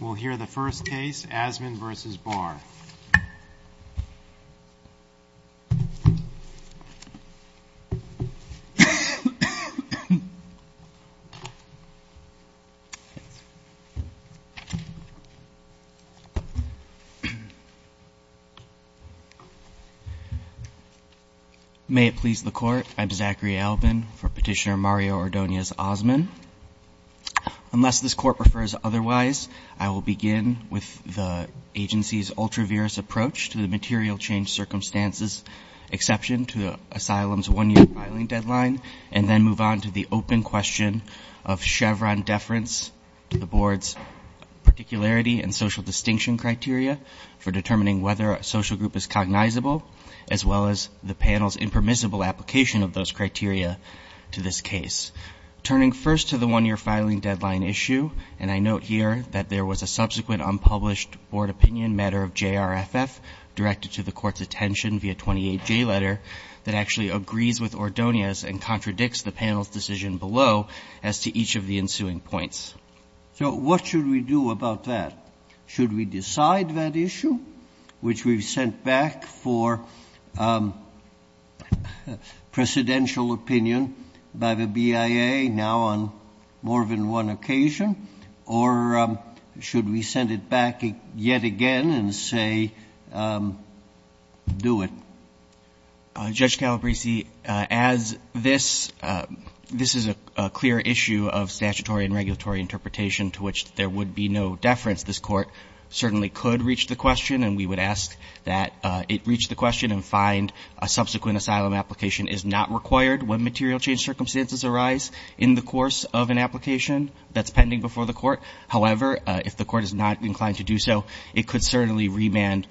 We'll hear the first case, Azmen v. Barr. May it please the Court, I'm Zachary Albin for Petitioner Mario Ordonez Azmen. Unless this Court prefers otherwise, I will begin with the agency's ultra-virus approach to the material change circumstances exception to the asylum's one-year filing deadline, and then move on to the open question of Chevron deference to the Board's particularity and social distinction criteria for determining whether a social group is cognizable, as well as the panel's impermissible application of those criteria to this case. Turning first to the one-year filing deadline issue, and I note here that there was a subsequent unpublished Board opinion matter of J.R.F.F. directed to the Court's attention via 28J letter that actually agrees with Ordonez and contradicts the panel's decision below as to each of the ensuing points. So what should we do about that? Should we decide that issue, which we've sent back for presidential opinion by the BIA, now on more than one occasion? Or should we send it back yet again and say, do it? Judge Calabresi, as this is a clear issue of statutory and regulatory interpretation to which there would be no deference, this Court certainly could reach the question, and we would ask that it reach the question and find that a subsequent asylum application is not required when material change circumstances arise in the course of an application that's pending before the Court. However, if the Court is not inclined to do so, it could certainly remand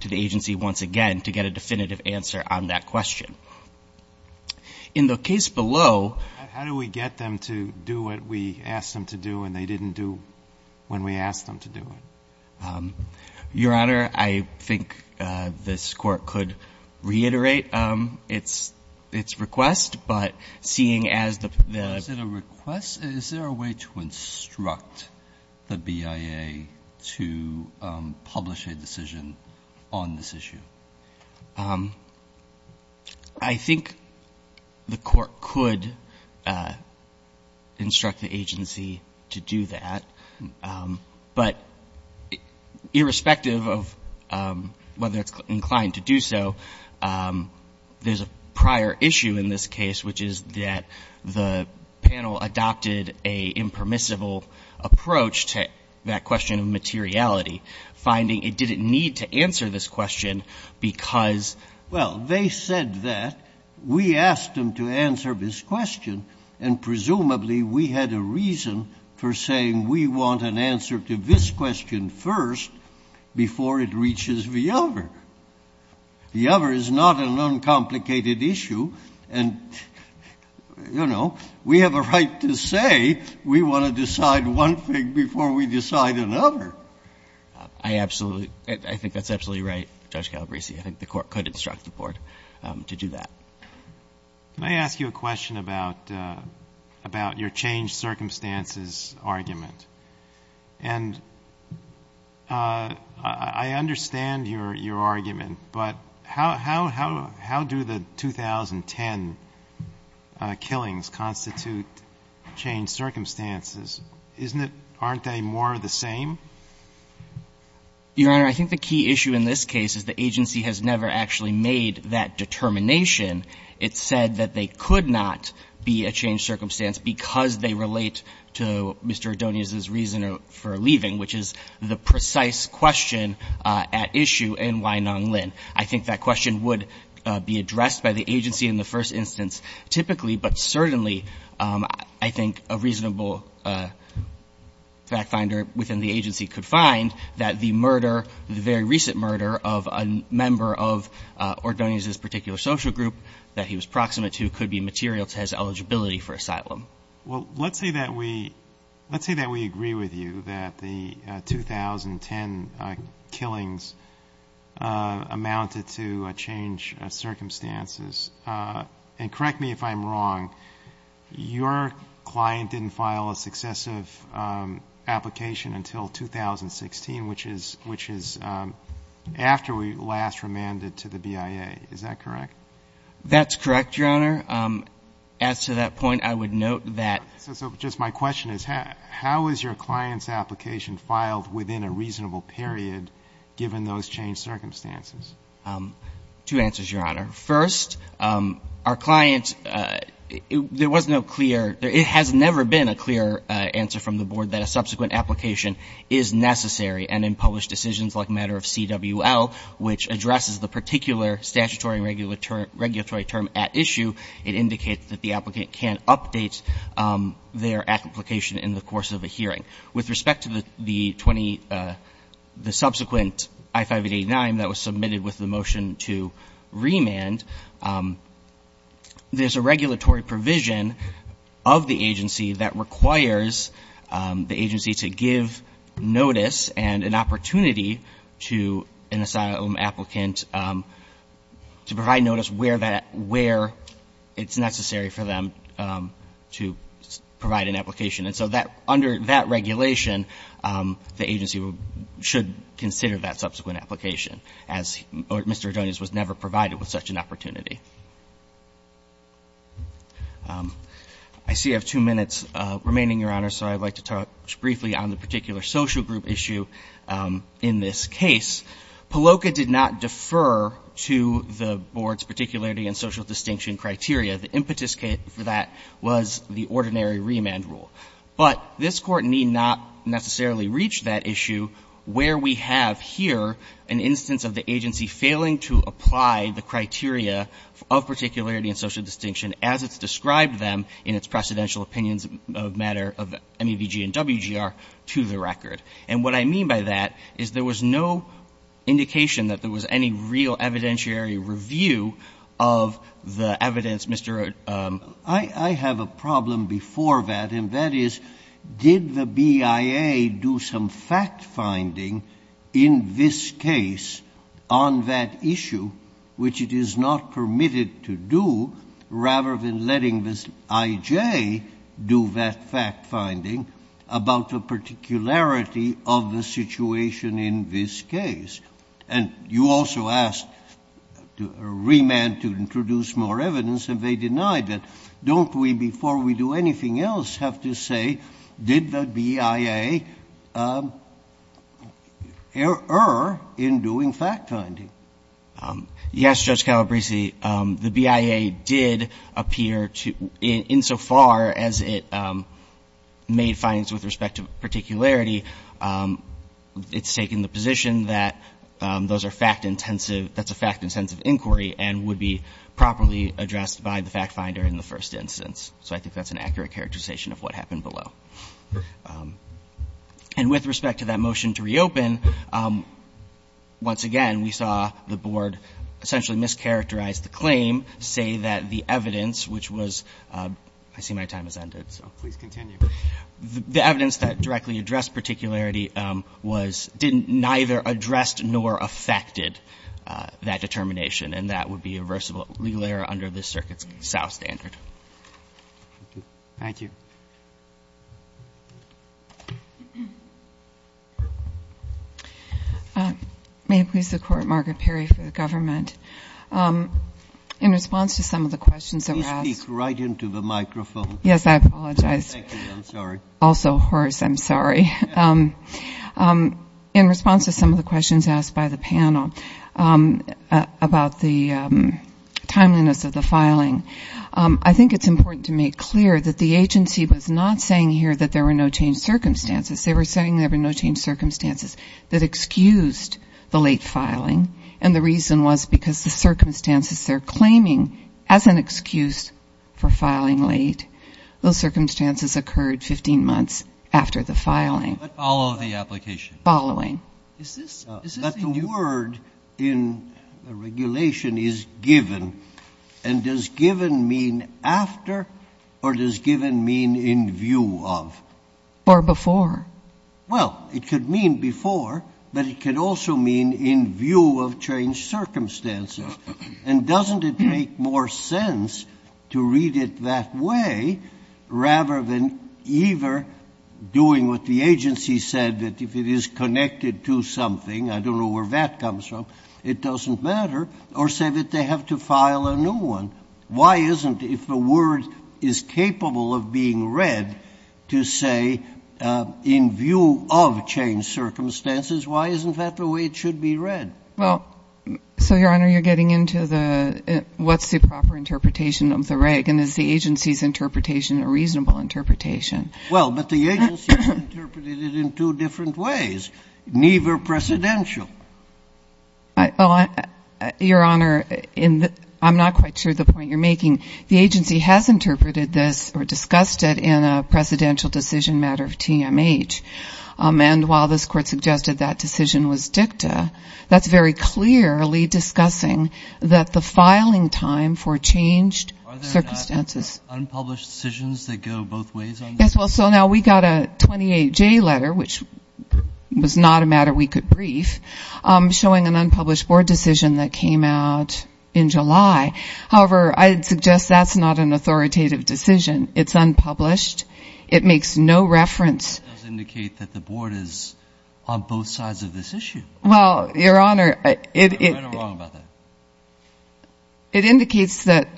to the agency once again to get a definitive answer on that question. In the case below ---- How do we get them to do what we asked them to do and they didn't do when we asked them to do it? Your Honor, I think this Court could reiterate its request, but seeing as the ---- Is it a request? Is there a way to instruct the BIA to publish a decision on this issue? I think the Court could instruct the agency to do that. But irrespective of whether it's inclined to do so, there's a prior issue in this case, which is that the panel adopted a impermissible approach to that question of materiality, finding it didn't need to answer this question because ---- Well, they said that. We asked them to answer this question and presumably we had a reason for saying we want an answer to this question first before it reaches the other. The other is not an uncomplicated issue and, you know, we have a right to say we want to decide one thing before we decide another. I absolutely ---- I think that's absolutely right, Judge Calabresi. I think the Court could instruct the Court to do that. Can I ask you a question about your changed circumstances argument? And I understand your argument, but how do the 2010 killings constitute changed circumstances? Isn't it ---- Aren't they more of the same? Your Honor, I think the key issue in this case is the agency has never actually made that determination. It said that they could not be a changed circumstance because they relate to Mr. Adonius's reason for leaving, which is the precise question at issue in Wainanlin. I think that question would be addressed by the agency in the first instance typically, but certainly I think a reasonable fact finder within the agency could find that the murder, the very recent murder of a member of Adonius's particular social group that he was proximate to could be material to his eligibility for asylum. Well, let's say that we agree with you that the 2010 killings amounted to a changed circumstances. And correct me if I'm wrong, your client didn't file a successive application until 2016, which is after we last remanded to the BIA. Is that correct? That's correct, Your Honor. As to that point, I would note that ---- So just my question is how is your client's application filed within a reasonable period given those changed circumstances? Two answers, Your Honor. First, our client, there was no clear ---- it has never been a clear answer from the Board that a subsequent application is necessary. And in published decisions like matter of CWL, which addresses the particular statutory regulatory term at issue, it indicates that the applicant can't update their application in the course of a hearing. With respect to the 20 ---- the subsequent I-589 that was submitted with the motion to remand, there's a regulatory provision of the agency that requires the agency to give notice and an opportunity to an asylum applicant to provide notice where that ---- where it's necessary for them to provide an application. And so that under that regulation, the agency should consider that subsequent application, as Mr. Adonis was never provided with such an opportunity. I see I have two minutes remaining, Your Honor, so I'd like to talk briefly on the particular social group issue in this case. PLOCA did not defer to the Board's particularity and social distinction criteria. The impetus for that was the ordinary remand rule. But this Court need not necessarily reach that issue where we have here an instance of the agency failing to apply the criteria of particularity and social distinction as it's described them in its precedential opinions of matter of MEVG and WGR to the record. And what I mean by that is there was no indication that there was any real evidentiary review of the evidence, Mr. Adonis. I have a problem before that, and that is, did the BIA do some fact-finding in this case on that issue, which it is not permitted to do, rather than letting this IJ do that fact-finding about the particularity of the situation in this case? And you also asked a remand to introduce more evidence, and they denied that. Don't we, before we do anything else, have to say, did the BIA err in doing fact-finding? Yes, Judge Calabresi. The BIA did appear to, insofar as it made findings with respect to particularity, it's taken the position that those are fact-intensive, that's a fact-intensive inquiry and would be properly addressed by the fact-finder in the first instance. So I think that's an accurate characterization of what happened below. And with respect to that motion to reopen, once again, we saw the Board essentially mischaracterize the claim, say that the evidence, which was, I see my time has ended, so please continue. The evidence that directly addressed particularity was, didn't neither address nor affected that determination, and that would be a reversible legal error under this Circuit's south standard. Thank you. May it please the Court, Margaret Perry for the government. In response to some of the questions that were asked. Please speak right into the microphone. Yes, I apologize. Thank you. I'm sorry. Also, Horace, I'm sorry. In response to some of the questions asked by the panel about the timeliness of the filing, I think it's important to make clear that the agency was not saying here that there were no changed circumstances. They were saying there were no changed circumstances that excused the late filing, and the reason was because the circumstances they're claiming as an excuse for filing late. Those circumstances occurred 15 months after the filing. But follow the application. Following. Is this the word in the regulation is given, and does given mean after or does given mean in view of? Or before. Well, it could mean before, but it could also mean in view of changed circumstances. And doesn't it make more sense to read it that way rather than either doing what the agency said, that if it is connected to something, I don't know where that comes from, it doesn't matter, or say that they have to file a new one. Why isn't, if the word is capable of being read, to say in view of changed circumstances, why isn't that the way it should be read? Well, so, Your Honor, you're getting into the what's the proper interpretation of the regulation. Is the agency's interpretation a reasonable interpretation? Well, but the agency interpreted it in two different ways, neither precedential. Your Honor, I'm not quite sure the point you're making. The agency has interpreted this or discussed it in a precedential decision matter of TMH. And while this Court suggested that decision was dicta, that's very clearly discussing that the filing time for changed circumstances. Are there not unpublished decisions that go both ways on this? Yes, well, so now we got a 28J letter, which was not a matter we could brief, showing an unpublished board decision that came out in July. However, I'd suggest that's not an authoritative decision. It's unpublished. It makes no reference. It does indicate that the board is on both sides of this issue. Well, Your Honor, it indicates that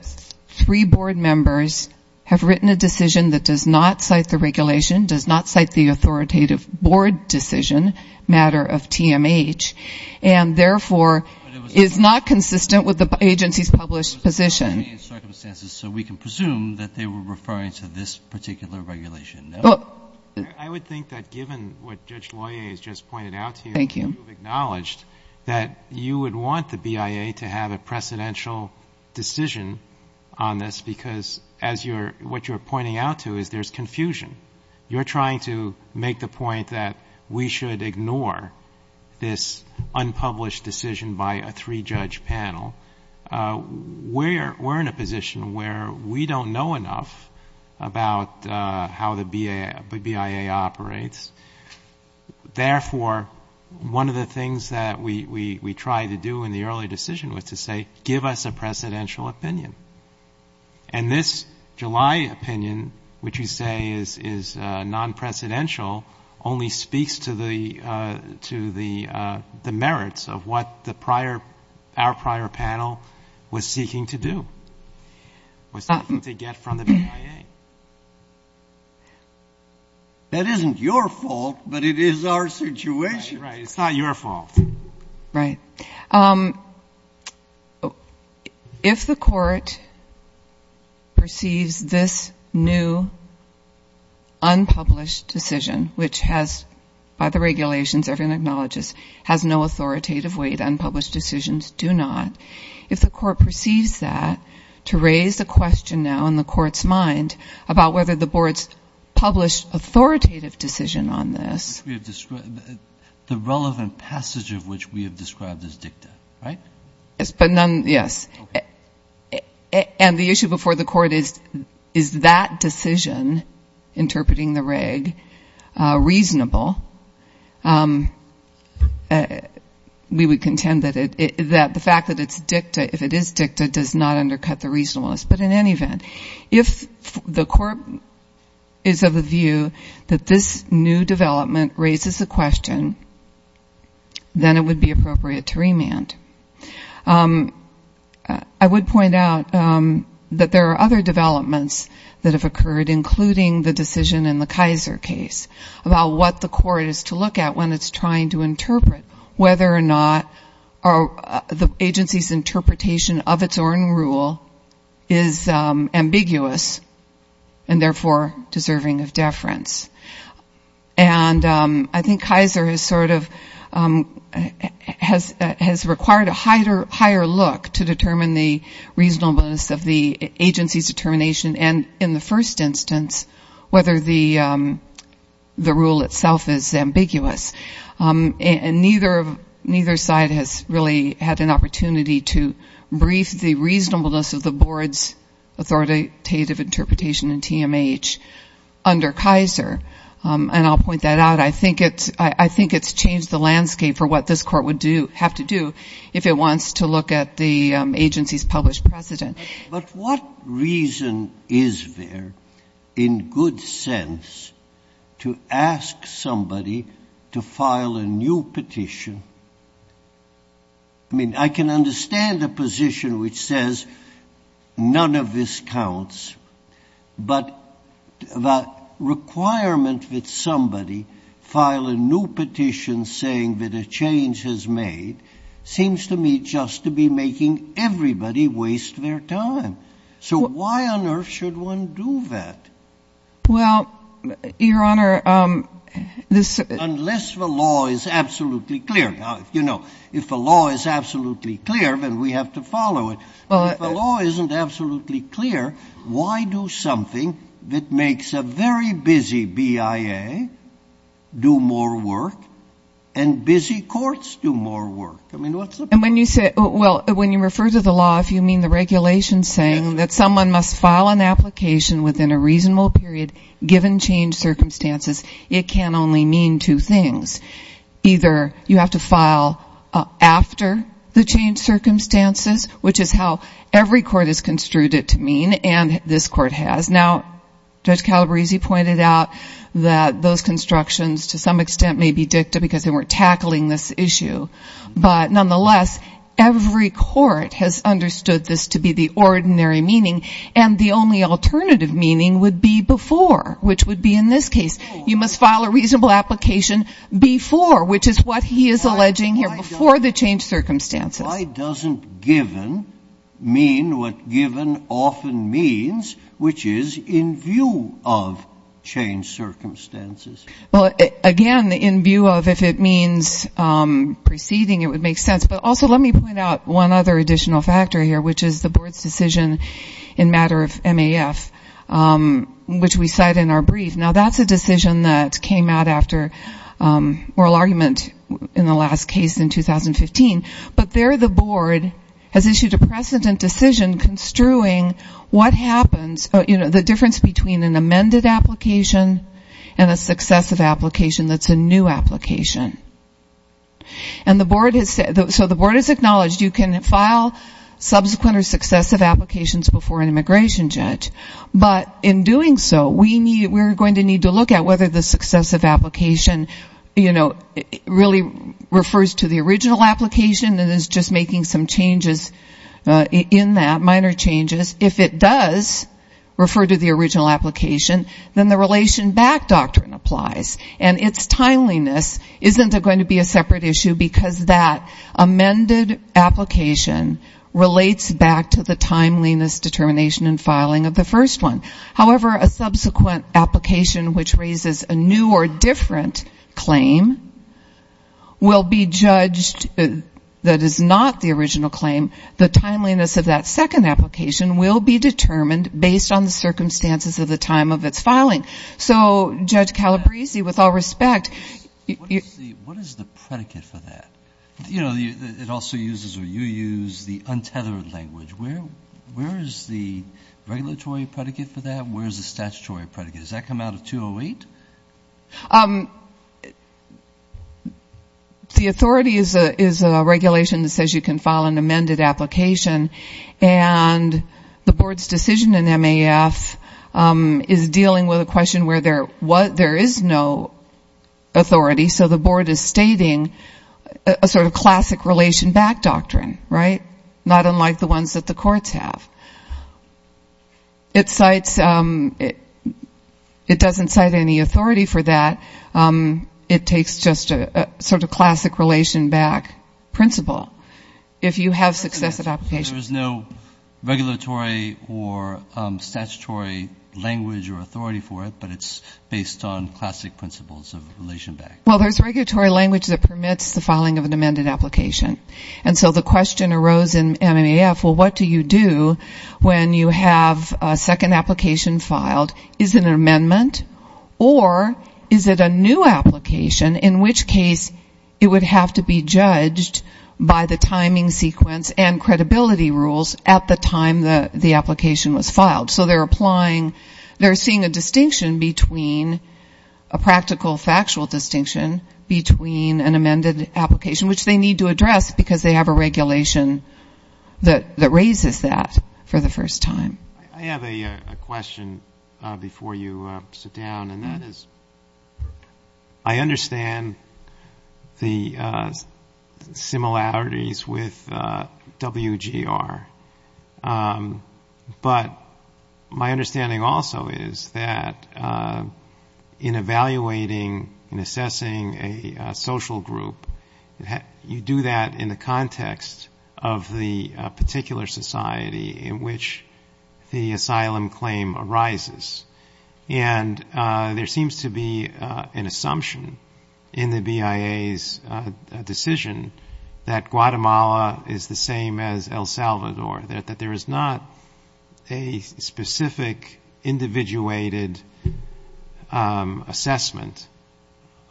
three board members have written a decision that does not cite the regulation, does not cite the authoritative board decision matter of TMH, and therefore is not consistent with the agency's published position. But it was a lawyer in circumstances, so we can presume that they were referring to this particular regulation. No? I would think that given what Judge Loyer has just pointed out to you, you've acknowledged that you would want the BIA to have a precedential decision on this, because what you're pointing out to is there's confusion. You're trying to make the point that we should ignore this unpublished decision by a three-judge panel. We're in a position where we don't know enough about how the BIA operates. Therefore, one of the things that we tried to do in the early decision was to say, give us a precedential opinion. And this July opinion, which you say is non-precedential, only speaks to the merits of what our prior panel was seeking to do, was seeking to get from the BIA. That isn't your fault, but it is our situation. Right, right. It's not your fault. Right. If the court perceives this new unpublished decision, which has, by the regulations, everyone acknowledges, has no authoritative weight, unpublished decisions do not. If the court perceives that, to raise the question now in the court's mind about whether the board's published authoritative decision on this. The relevant passage of which we have described as dicta, right? Yes, but none, yes. Okay. And the issue before the court is, is that decision, interpreting the reg, reasonable? We would contend that the fact that it's dicta, if it is dicta, does not undercut the reasonableness. But in any event, if the court is of the view that this new development raises the question, then it would be appropriate to remand. I would point out that there are other developments that have occurred, including the decision in the Kaiser case, about what the court is to look at when it's trying to interpret whether or not the agency's interpretation of its own rule is ambiguous and, therefore, deserving of deference. And I think Kaiser has sort of, has required a higher look to determine the reasonableness of the agency's determination and, in the first instance, whether the rule itself is ambiguous. And neither side has really had an opportunity to brief the reasonableness of the board's authoritative interpretation in TMH under Kaiser. And I'll point that out. I think it's changed the landscape for what this court would have to do if it wants to look at the agency's published precedent. But what reason is there, in good sense, to ask somebody to file a new petition? I mean, I can understand the position which says none of this counts, but the requirement that somebody file a new petition saying that a change has made seems to me just to be making everybody waste their time. So why on earth should one do that? Well, Your Honor, this — Unless the law is absolutely clear. Now, you know, if the law is absolutely clear, then we have to follow it. If the law isn't absolutely clear, why do something that makes a very busy BIA do more work and busy courts do more work? I mean, what's the point? Well, when you refer to the law, if you mean the regulations saying that someone must file an application within a reasonable period given change circumstances, it can only mean two things. Either you have to file after the change circumstances, which is how every court has construed it to mean, and this court has. Now, Judge Calabresi pointed out that those constructions to some extent may be dicta because they weren't tackling this issue. But nonetheless, every court has understood this to be the ordinary meaning, and the only alternative meaning would be before, which would be in this case. You must file a reasonable application before, which is what he is alleging here, before the change circumstances. Why doesn't given mean what given often means, which is in view of change circumstances? Well, again, in view of, if it means preceding, it would make sense. But also let me point out one other additional factor here, which is the board's decision in matter of MAF, which we cite in our brief. Now, that's a decision that came out after oral argument in the last case in 2015. But there the board has issued a precedent decision construing what happens, you know, the difference between an amended application and a successive application that's a new application. And the board has said, so the board has acknowledged you can file subsequent or successive applications before an immigration judge. But in doing so, we're going to need to look at whether the successive application, you know, really refers to the original application and is just making some changes in that, minor changes. If it does refer to the original application, then the relation back doctrine applies. And its timeliness isn't going to be a separate issue, because that amended application relates back to the timeliness, determination, and filing of the first one. However, a subsequent application, which raises a new or different claim, will be judged that is not the original claim. The timeliness of that second application will be determined based on the circumstances of the time of its filing. So Judge Calabresi, with all respect. What is the predicate for that? You know, it also uses or you use the untethered language. Where is the regulatory predicate for that? Where is the statutory predicate? Does that come out of 208? The authority is a regulation that says you can file an amended application. And the board's decision in MAF is dealing with a question where there is no authority. So the board is stating a sort of classic relation back doctrine, right? Not unlike the ones that the courts have. It cites ‑‑ it doesn't cite any authority for that. It takes just a sort of classic relation back principle. If you have successive applications. There is no regulatory or statutory language or authority for it, but it's based on classic principles of relation back. Well, there's regulatory language that permits the filing of an amended application. And so the question arose in MAF, well, what do you do when you have a second application filed? Is it an amendment? Or is it a new application in which case it would have to be judged by the timing sequence and credibility rules at the time the application was filed? So they're applying ‑‑ they're seeing a distinction between a practical factual distinction between an amended application, which they need to address because they have a regulation that raises that for the first time. I have a question before you sit down, and that is I understand the similarities with WGR. But my understanding also is that in evaluating and assessing a social group, you do that in the context of the particular society in which the asylum claim arises. And there seems to be an assumption in the BIA's decision that Guatemala is the same as El Salvador, that there is not a specific individuated assessment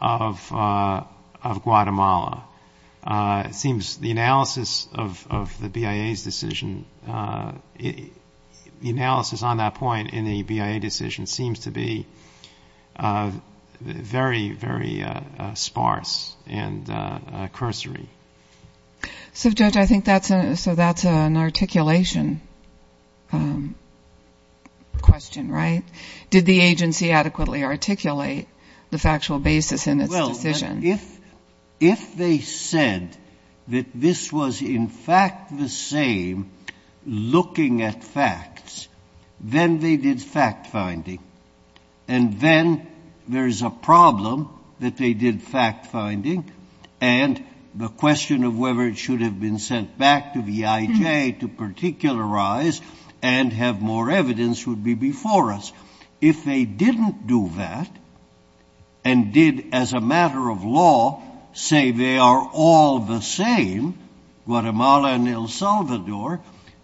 of Guatemala. It seems the analysis of the BIA's decision, the analysis on that point in the BIA decision, seems to be very, very sparse and cursory. So, Judge, I think that's an articulation question, right? Did the agency adequately articulate the factual basis in its decision? If they said that this was in fact the same looking at facts, then they did fact finding. And then there's a problem that they did fact finding, and the question of whether it should have been sent back to the EIJ to particularize and have more evidence would be before us. If they didn't do that and did, as a matter of law, say they are all the same, Guatemala and El Salvador,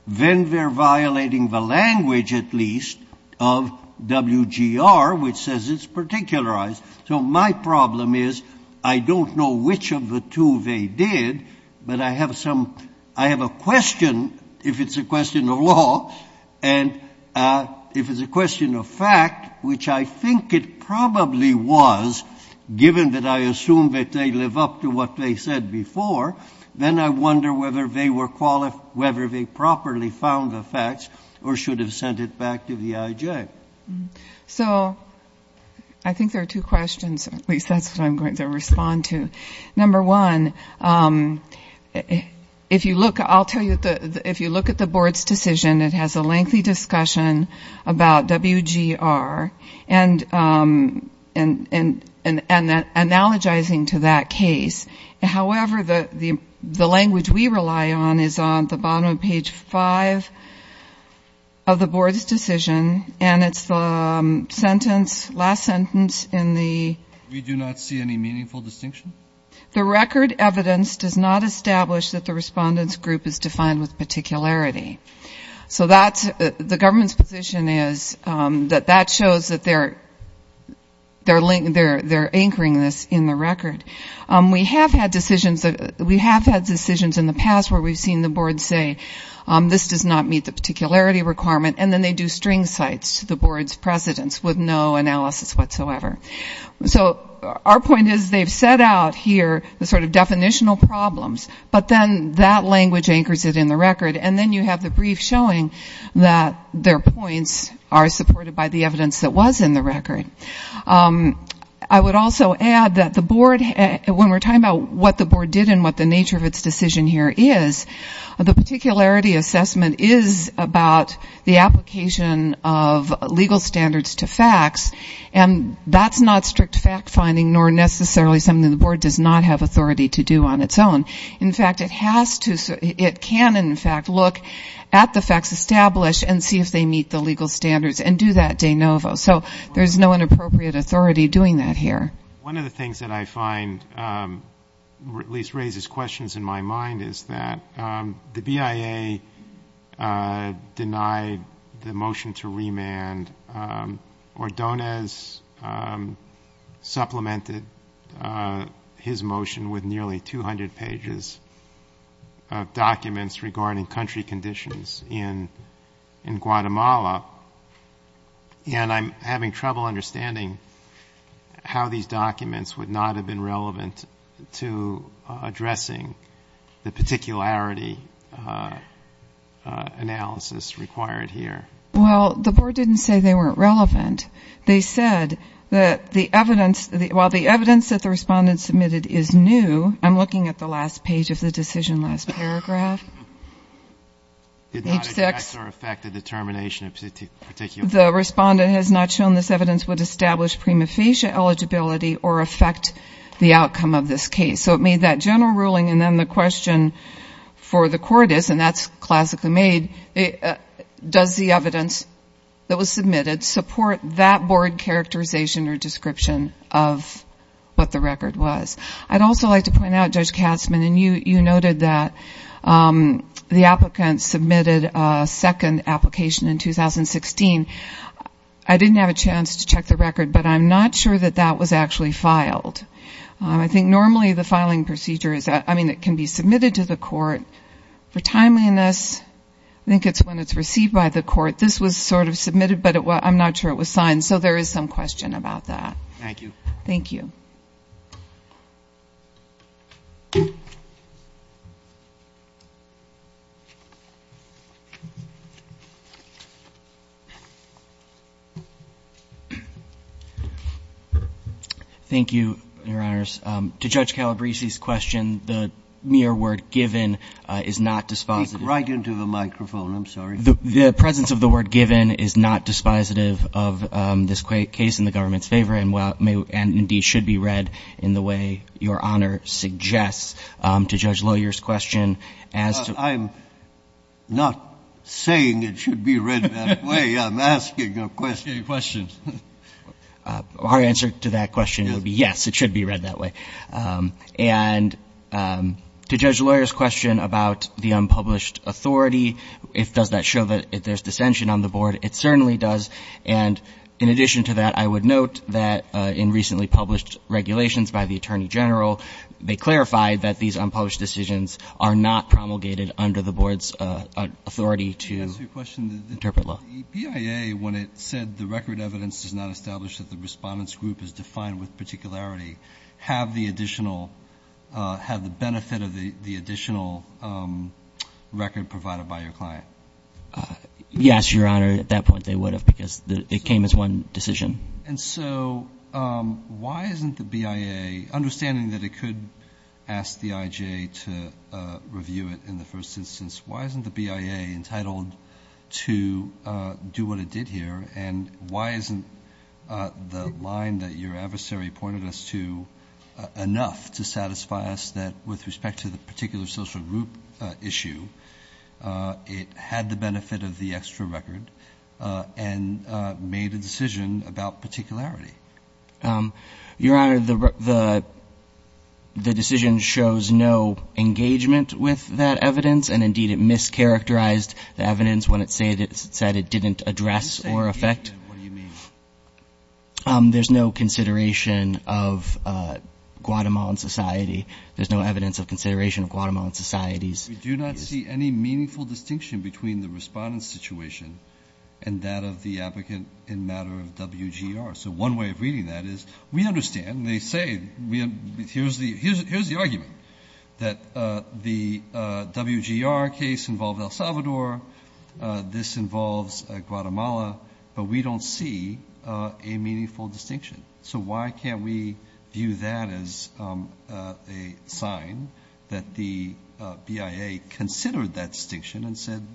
then they're violating the language, at least, of WGR, which says it's particularized. So my problem is I don't know which of the two they did, but I have a question, if it's a question of law, and if it's a question of fact, which I think it probably was, given that I assume that they live up to what they said before, then I wonder whether they properly found the facts or should have sent it back to the EIJ. So I think there are two questions, at least that's what I'm going to respond to. Number one, if you look, I'll tell you, if you look at the board's decision, it has a lengthy discussion about WGR, and analogizing to that case. However, the language we rely on is on the bottom of page five of the board's decision, and it's the sentence, last sentence in the... The record evidence does not establish that the respondent's group is defined with particularity. So the government's position is that that shows that they're anchoring this in the record. We have had decisions in the past where we've seen the board say this does not meet the particularity requirement, and then they do string sites to the board's precedents with no analysis whatsoever. So our point is they've set out here the sort of definitional problems, but then that language anchors it in the record, and then you have the brief showing that their points are supported by the evidence that was in the record. I would also add that the board, when we're talking about what the board did and what the nature of its decision here is, the particularity assessment is about the application of legal standards to facts, and that's not strict fact-finding nor necessarily something the board does not have authority to do on its own. In fact, it has to, it can, in fact, look at the facts established and see if they meet the legal standards and do that de novo. So there's no inappropriate authority doing that here. One of the things that I find, or at least raises questions in my mind, is that the BIA denied the motion to remand, or Donez supplemented his motion with nearly 200 pages of documents regarding country conditions in Guatemala, and I'm having trouble understanding how these documents would not have been relevant to addressing the particularity analysis required here. Well, the board didn't say they weren't relevant. They said that the evidence, while the evidence that the respondent submitted is new, I'm looking at the last page of the decision, last paragraph. Did not address or affect the determination of particularity. But it has not shown this evidence would establish prima facie eligibility or affect the outcome of this case. So it made that general ruling, and then the question for the court is, and that's classically made, does the evidence that was submitted support that board characterization or description of what the record was? I'd also like to point out, Judge Katzmann, and you noted that the applicant submitted a second application in 2016. I didn't have a chance to check the record, but I'm not sure that that was actually filed. I think normally the filing procedure is, I mean, it can be submitted to the court for timeliness. I think it's when it's received by the court. This was sort of submitted, but I'm not sure it was signed, so there is some question about that. Thank you. Thank you. Thank you, Your Honors. To Judge Calabresi's question, the mere word given is not dispositive. I'm sorry. The presence of the word given is not dispositive of this case in the government's favor and indeed should be read in the way Your Honor suggests. To Judge Lawyer's question, as to – I'm not saying it should be read that way. I'm asking a question. A question. Our answer to that question would be yes, it should be read that way. And to Judge Lawyer's question about the unpublished authority, does that show that there's dissension on the Board? It certainly does. And in addition to that, I would note that in recently published regulations by the Attorney General, they clarified that these unpublished decisions are not promulgated under the Board's authority to interpret law. Can I ask you a question? The BIA, when it said the record evidence does not establish that the Respondent's particularity, have the additional – have the benefit of the additional record provided by your client? Yes, Your Honor. At that point, they would have because it came as one decision. And so why isn't the BIA, understanding that it could ask the IJ to review it in the first instance, why isn't the BIA entitled to do what it did here? And why isn't the line that your adversary pointed us to enough to satisfy us that with respect to the particular social group issue, it had the benefit of the extra record and made a decision about particularity? Your Honor, the decision shows no engagement with that evidence, and indeed it mischaracterized the evidence when it said it didn't address or affect. What do you mean? There's no consideration of Guatemalan society. There's no evidence of consideration of Guatemalan societies. We do not see any meaningful distinction between the Respondent's situation and that of the applicant in matter of WGR. So one way of reading that is we understand, they say, here's the argument, that the WGR case involved El Salvador, this involves Guatemala, but we don't see a meaningful distinction. So why can't we view that as a sign that the BIA considered that distinction and said,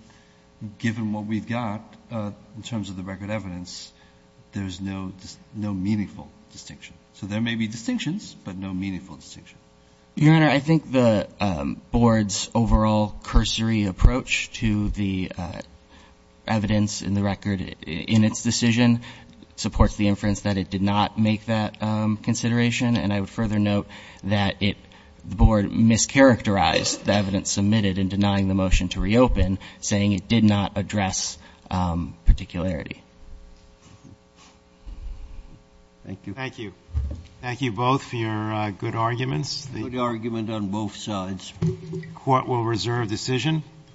given what we've got in terms of the record evidence, there's no meaningful distinction. So there may be distinctions, but no meaningful distinction. Your Honor, I think the Board's overall cursory approach to the evidence in the record in its decision supports the inference that it did not make that consideration, and I would further note that the Board mischaracterized the evidence submitted in denying the motion to reopen, saying it did not address particularity. Thank you. Thank you. Thank you both for your good arguments. Good argument on both sides. Court will reserve decision.